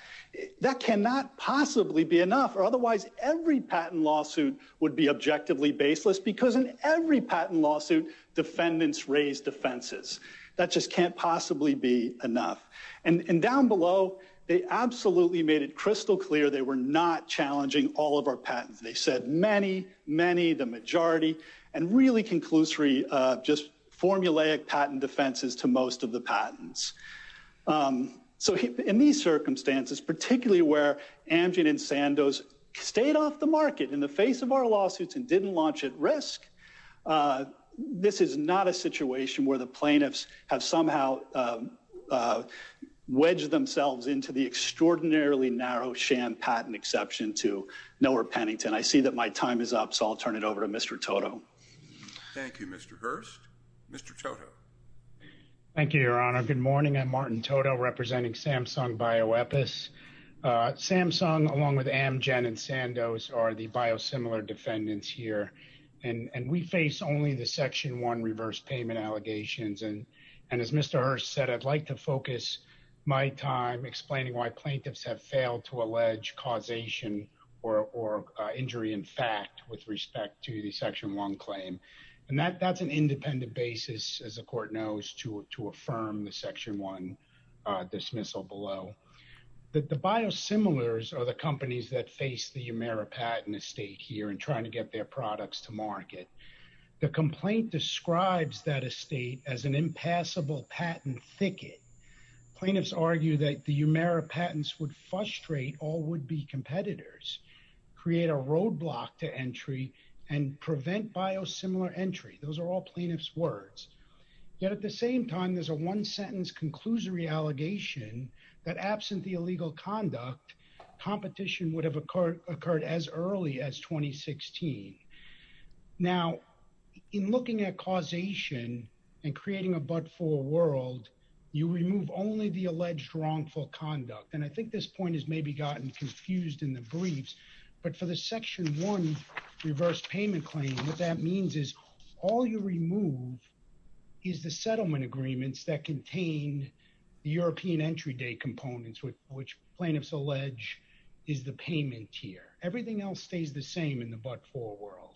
That cannot possibly be enough, or otherwise every patent lawsuit would be objectively baseless because in every patent lawsuit, defendants raise defenses. That just can't possibly be enough. And down below, they absolutely made it crystal clear they were not challenging all of our patents. They said many, many, the majority, and really conclusory, just formulaic patent defenses to most of the patents. So in these circumstances, particularly where Amgen and Sandoz stayed off the market in the face of our lawsuits and didn't launch at risk, this is not a situation where the plaintiffs have somehow wedged themselves into the extraordinarily narrow sham patent exception to Noah Pennington. I see that my time is up, so I'll turn it over to Mr. Toto. Thank you, Mr. Hurst. Mr. Toto. Thank you, Your Honor. Good morning, I'm Martin Toto representing Samsung BioEpis. Samsung, along with Amgen and Sandoz, are the biosimilar defendants here. And we face only the Section 1 reverse payment allegations. And as Mr. Hurst said, I'd like to focus my time explaining why plaintiffs have failed to allege causation or injury in fact with respect to the Section 1 claim. And that's an independent basis, as the court knows, to affirm the Section 1 dismissal below. The biosimilars are the companies that face the Umaira patent estate here and trying to get their products to market. The complaint describes that estate as an impassable patent thicket. Plaintiffs argue that the Umaira patents would frustrate all would-be competitors, create a roadblock to entry, and prevent biosimilar entry. Those are all plaintiffs' words. Yet at the same time, there's a one-sentence conclusory allegation that absent the illegal conduct, competition would have occurred as early as 2016. Now, in looking at causation and creating a but-for world, you remove only the alleged wrongful conduct. And I think this point has maybe gotten confused in the briefs. But for the Section 1 reverse payment claim, what that means is all you remove is the settlement agreements that contain the European entry day components which plaintiffs allege is the payment tier. Everything else stays the same in the but-for world.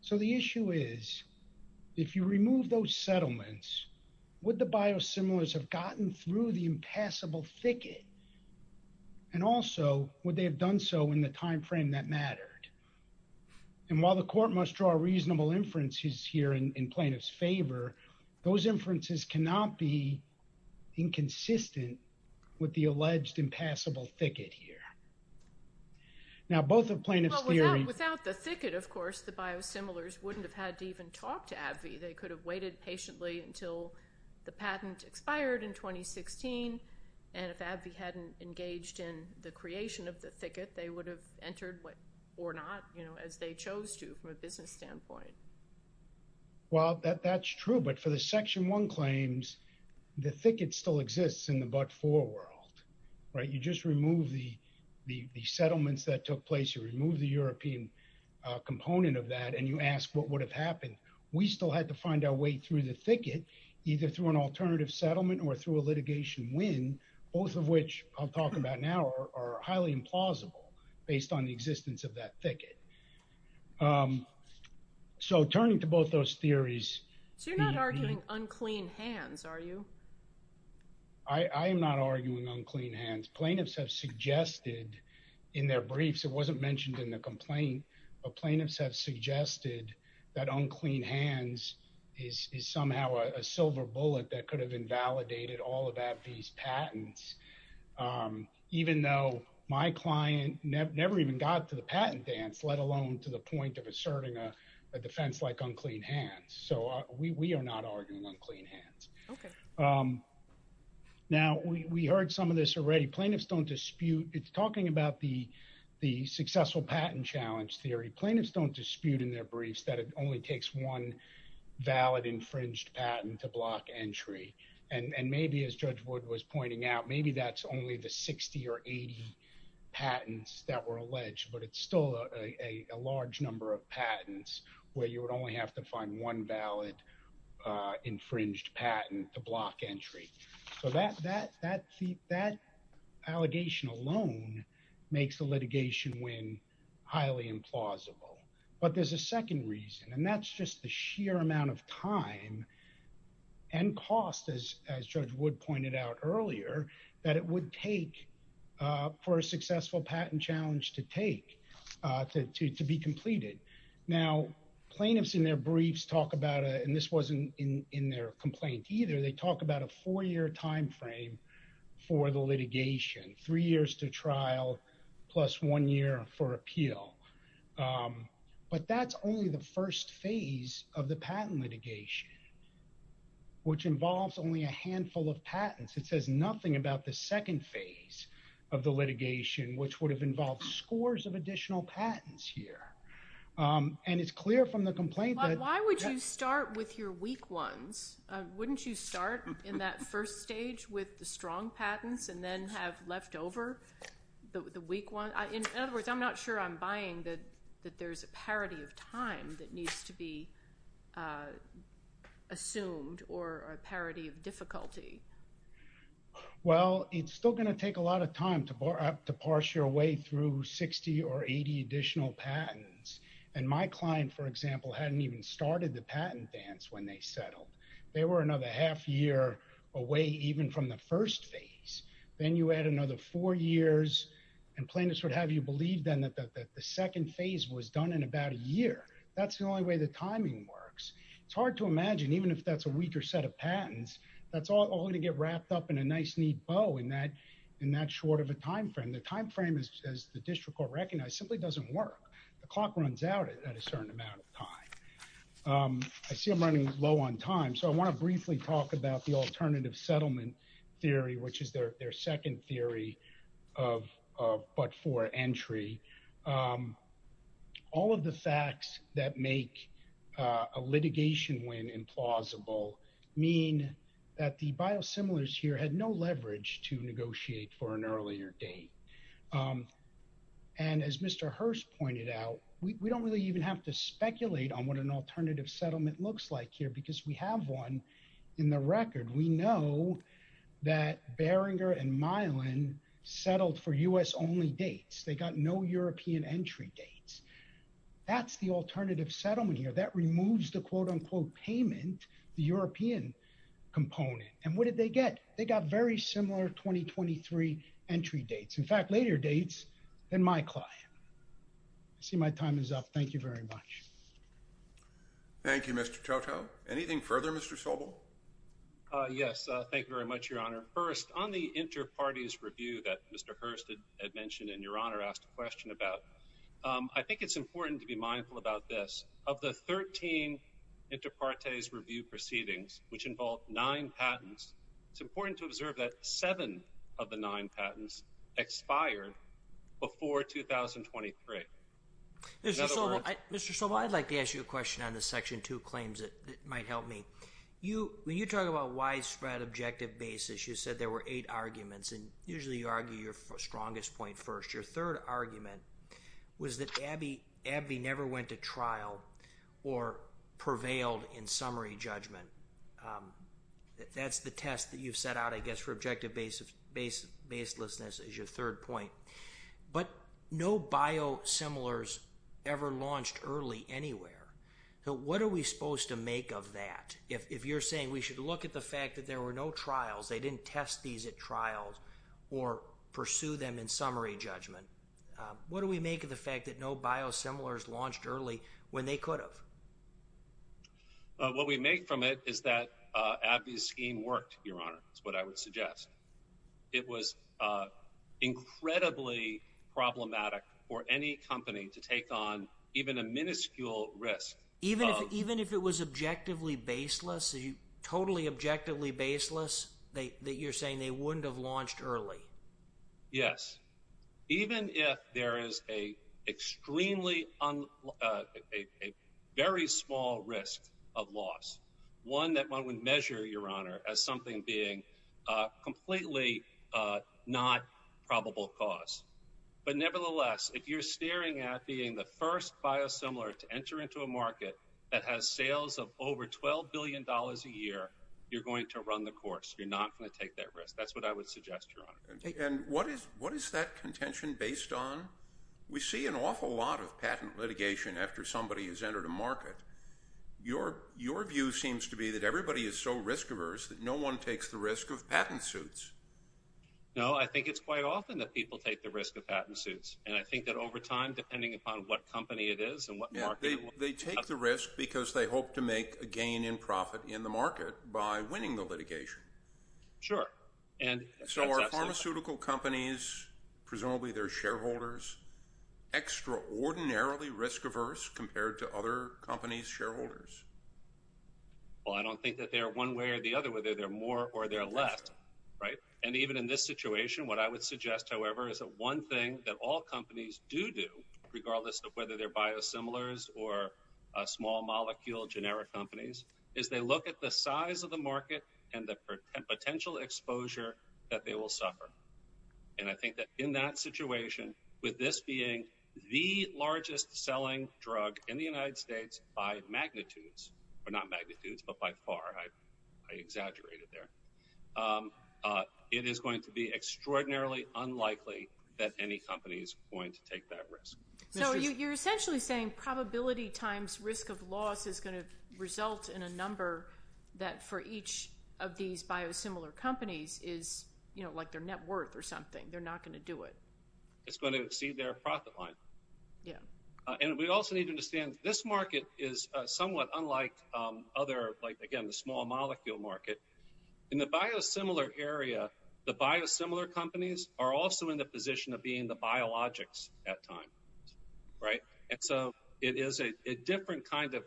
So the issue is, if you remove those settlements, would the biosimilars have gotten through the impassable thicket? And also, would they have done so And while the court must draw reasonable inferences here in plaintiffs' favor, those inferences cannot be inconsistent with the alleged impassable thicket here. Now, both of plaintiffs' theory- Without the thicket, of course, the biosimilars wouldn't have had to even talk to AbbVie. They could have waited patiently until the patent expired in 2016. And if AbbVie hadn't engaged in the creation of the thicket, they would have entered or not, as they chose to from a business standpoint. Well, that's true. But for the section one claims, the thicket still exists in the but-for world, right? You just remove the settlements that took place. You remove the European component of that and you ask what would have happened. We still had to find our way through the thicket, either through an alternative settlement or through a litigation win, both of which I'll talk about now are highly implausible based on the existence of that thicket. So turning to both those theories- So you're not arguing unclean hands, are you? I am not arguing unclean hands. Plaintiffs have suggested in their briefs, it wasn't mentioned in the complaint, but plaintiffs have suggested that unclean hands is somehow a silver bullet that could have invalidated all of AbbVie's patents. Even though my client never even got to the patent dance, let alone to the point of asserting a defense like unclean hands. So we are not arguing unclean hands. Okay. Now, we heard some of this already. Plaintiffs don't dispute. It's talking about the successful patent challenge theory. Plaintiffs don't dispute in their briefs that it only takes one valid infringed patent to block entry. And maybe as Judge Wood was pointing out, maybe that's only the 60 or 80 patents that were alleged, but it's still a large number of patents where you would only have to find one valid infringed patent to block entry. So that allegation alone makes the litigation win highly implausible. But there's a second reason, and that's just the sheer amount of time and cost, as Judge Wood pointed out earlier, that it would take for a successful patent challenge to take, to be completed. Now, plaintiffs in their briefs talk about, and this wasn't in their complaint either, they talk about a four-year timeframe for the litigation, three years to trial plus one year for appeal. But that's only the first phase of the patent litigation, which involves only a handful of patents. It says nothing about the second phase of the litigation, which would have involved scores of additional patents here. And it's clear from the complaint that- Why would you start with your weak ones? Wouldn't you start in that first stage with the strong patents and then have left over the weak ones? In other words, I'm not sure I'm buying that there's a parity of time that needs to be assumed or a parity of difficulty. Well, it's still going to take a lot of time to parse your way through 60 or 80 additional patents. And my client, for example, hadn't even started the patent dance when they settled. They were another half year away even from the first phase. Then you add another four years, and plaintiffs would have you believe then that the second phase was done in about a year. That's the only way the timing works. It's hard to imagine, even if that's a weaker set of patents, that's all going to get wrapped up in a nice neat bow in that short of a timeframe. The timeframe, as the district court recognized, simply doesn't work. The clock runs out at a certain amount of time. I see I'm running low on time, so I want to briefly talk about the alternative settlement theory, which is their second theory of but for entry. All of the facts that make a litigation win implausible mean that the biosimilars here had no leverage to negotiate for an earlier date. And as Mr. Hurst pointed out, we don't really even have to speculate on what an alternative settlement looks like here because we have one in the record. We know that Beringer and Milan settled for U.S.-only dates. They got no European entry dates. That's the alternative settlement here. That removes the quote-unquote payment, the European component. And what did they get? They got very similar 2023 entry dates, in fact, later dates than my client. I see my time is up. Thank you very much. Thank you, Mr. Toto. Anything further, Mr. Sobel? Yes, thank you very much, Your Honor. First, on the inter partes review that Mr. Hurst had mentioned and Your Honor asked a question about, I think it's important to be mindful about this. Of the 13 inter partes review proceedings, which involved nine patents, it's important to observe that seven of the nine patents expired before 2023. Mr. Sobel, I'd like to ask you a question on the Section 2 claims that might help me. When you talk about widespread objective basis, you said there were eight arguments, and usually you argue your strongest point first. Your third argument was that Abbey never went to trial or prevailed in summary judgment. That's the test that you've set out, I guess, for objective baselessness as your third point. But no biosimilars ever launched early anywhere. What are we supposed to make of that? If you're saying we should look at the fact that there were no trials, they didn't test these at trials, or pursue them in summary judgment, what do we make of the fact that no biosimilars launched early when they could have? What we make from it is that Abbey's scheme worked, Your Honor, is what I would suggest. It was incredibly problematic for any company to take on even a minuscule risk. Even if it was objectively baseless, totally objectively baseless, that you're saying they wouldn't have launched early? Yes. Even if there is a very small risk of loss, one that one would measure, Your Honor, as something being completely not probable cause. But nevertheless, if you're staring at being the first biosimilar to enter into a market that has sales of over $12 billion a year, you're going to run the course. You're not going to take that risk. That's what I would suggest, Your Honor. And what is that contention based on? We see an awful lot of patent litigation after somebody has entered a market. Your view seems to be that everybody is so risk averse that no one takes the risk of patent suits. No. I think it's quite often that people take the risk of patent suits. And I think that over time, depending upon what company it is and what market it was. They take the risk because they hope to make a gain in profit in the market by winning the litigation. Sure. So are pharmaceutical companies, presumably their shareholders, extraordinarily risk averse compared to other companies' shareholders? Well, I don't think that they are one way or the other, whether they're more or they're less. And even in this situation, what I would suggest, however, is that one thing that all companies do do, regardless of whether they're biosimilars or small molecule generic companies, is they look at the size of the market and the potential exposure that they will suffer. And I think that in that situation, with this being the largest selling drug in the United States by magnitudes, or not magnitudes, but by far, I exaggerated there, it is going to be extraordinarily unlikely that any company is going to take that risk. So you're essentially saying probability times risk of loss is going to result in a number that, for each of these biosimilar companies, is like their net worth or something. They're not going to do it. It's going to exceed their profit line. Yeah. And we also need to understand this market is somewhat unlike other, like, again, the small molecule market. In the biosimilar area, the biosimilar companies are also in the position of being the biologics at times, right? And so it is a different kind of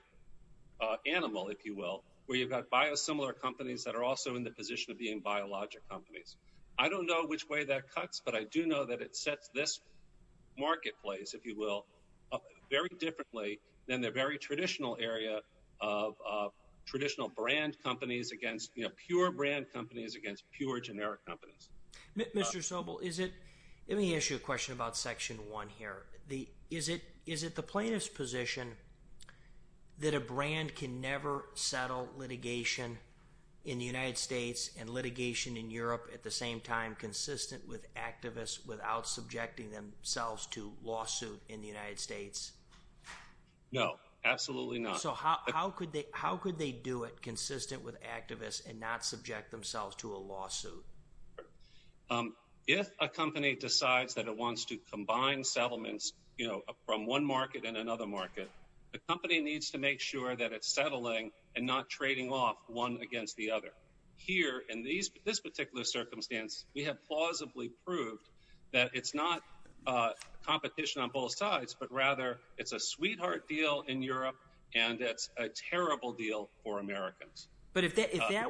animal, if you will, where you've got biosimilar companies that are also in the position of being biologic companies. I don't know which way that cuts, but I do know that it sets this marketplace, if you will, very differently than the very traditional area of traditional brand companies against, you know, pure brand companies against pure generic companies. Mr. Sobel, is it... Let me ask you a question about Section 1 here. Is it the plaintiff's position that a brand can never settle litigation in the United States and litigation in Europe at the same time without subjecting themselves to lawsuit in the United States? No, absolutely not. So how could they do it consistent with activists and not subject themselves to a lawsuit? If a company decides that it wants to combine settlements, you know, from one market and another market, the company needs to make sure that it's settling and not trading off one against the other. Here, in this particular circumstance, we have plausibly proved that it's not competition on both sides, but rather it's a sweetheart deal in Europe and it's a terrible deal for Americans. But if that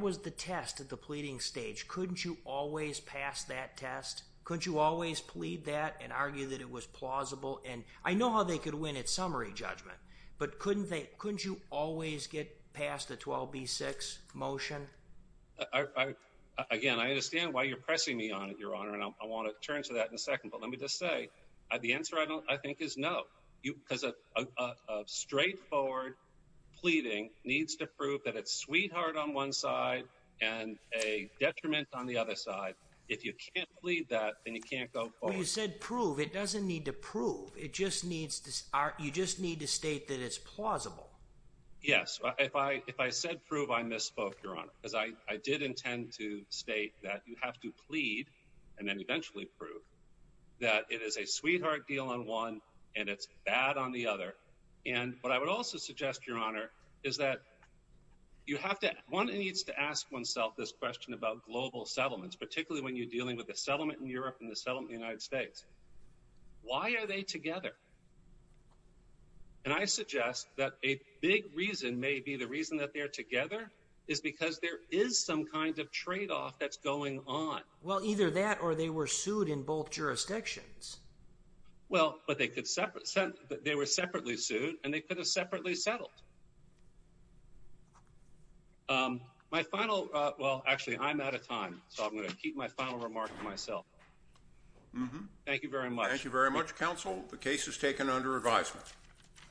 was the test at the pleading stage, couldn't you always pass that test? Couldn't you always plead that and argue that it was plausible? And I know how they could win at summary judgment, but couldn't you always get past the 12b-6 motion? Again, I understand why you're pressing me on it, Your Honor, and I want to turn to that in a second, but let me just say, the answer, I think, is no. Because a straightforward pleading needs to prove that it's sweetheart on one side and a detriment on the other side. If you can't plead that, then you can't go forward. Well, you said prove. It doesn't need to prove. You just need to state that it's plausible. Yes. If I said prove, I misspoke, Your Honor, because I did intend to state that you have to plead and then eventually prove that it is a sweetheart deal on one and it's bad on the other. And what I would also suggest, Your Honor, is that one needs to ask oneself this question about global settlements, particularly when you're dealing with a settlement in Europe and a settlement in the United States. Why are they together? And I suggest that a big reason may be the reason that they're together is because there is some kind of tradeoff that's going on. Well, either that or they were sued in both jurisdictions. Well, but they were separately sued and they could have separately settled. My final, well, actually, I'm out of time, so I'm going to keep my final remark to myself. Thank you very much. Thank you very much, counsel. The case is taken under advisement.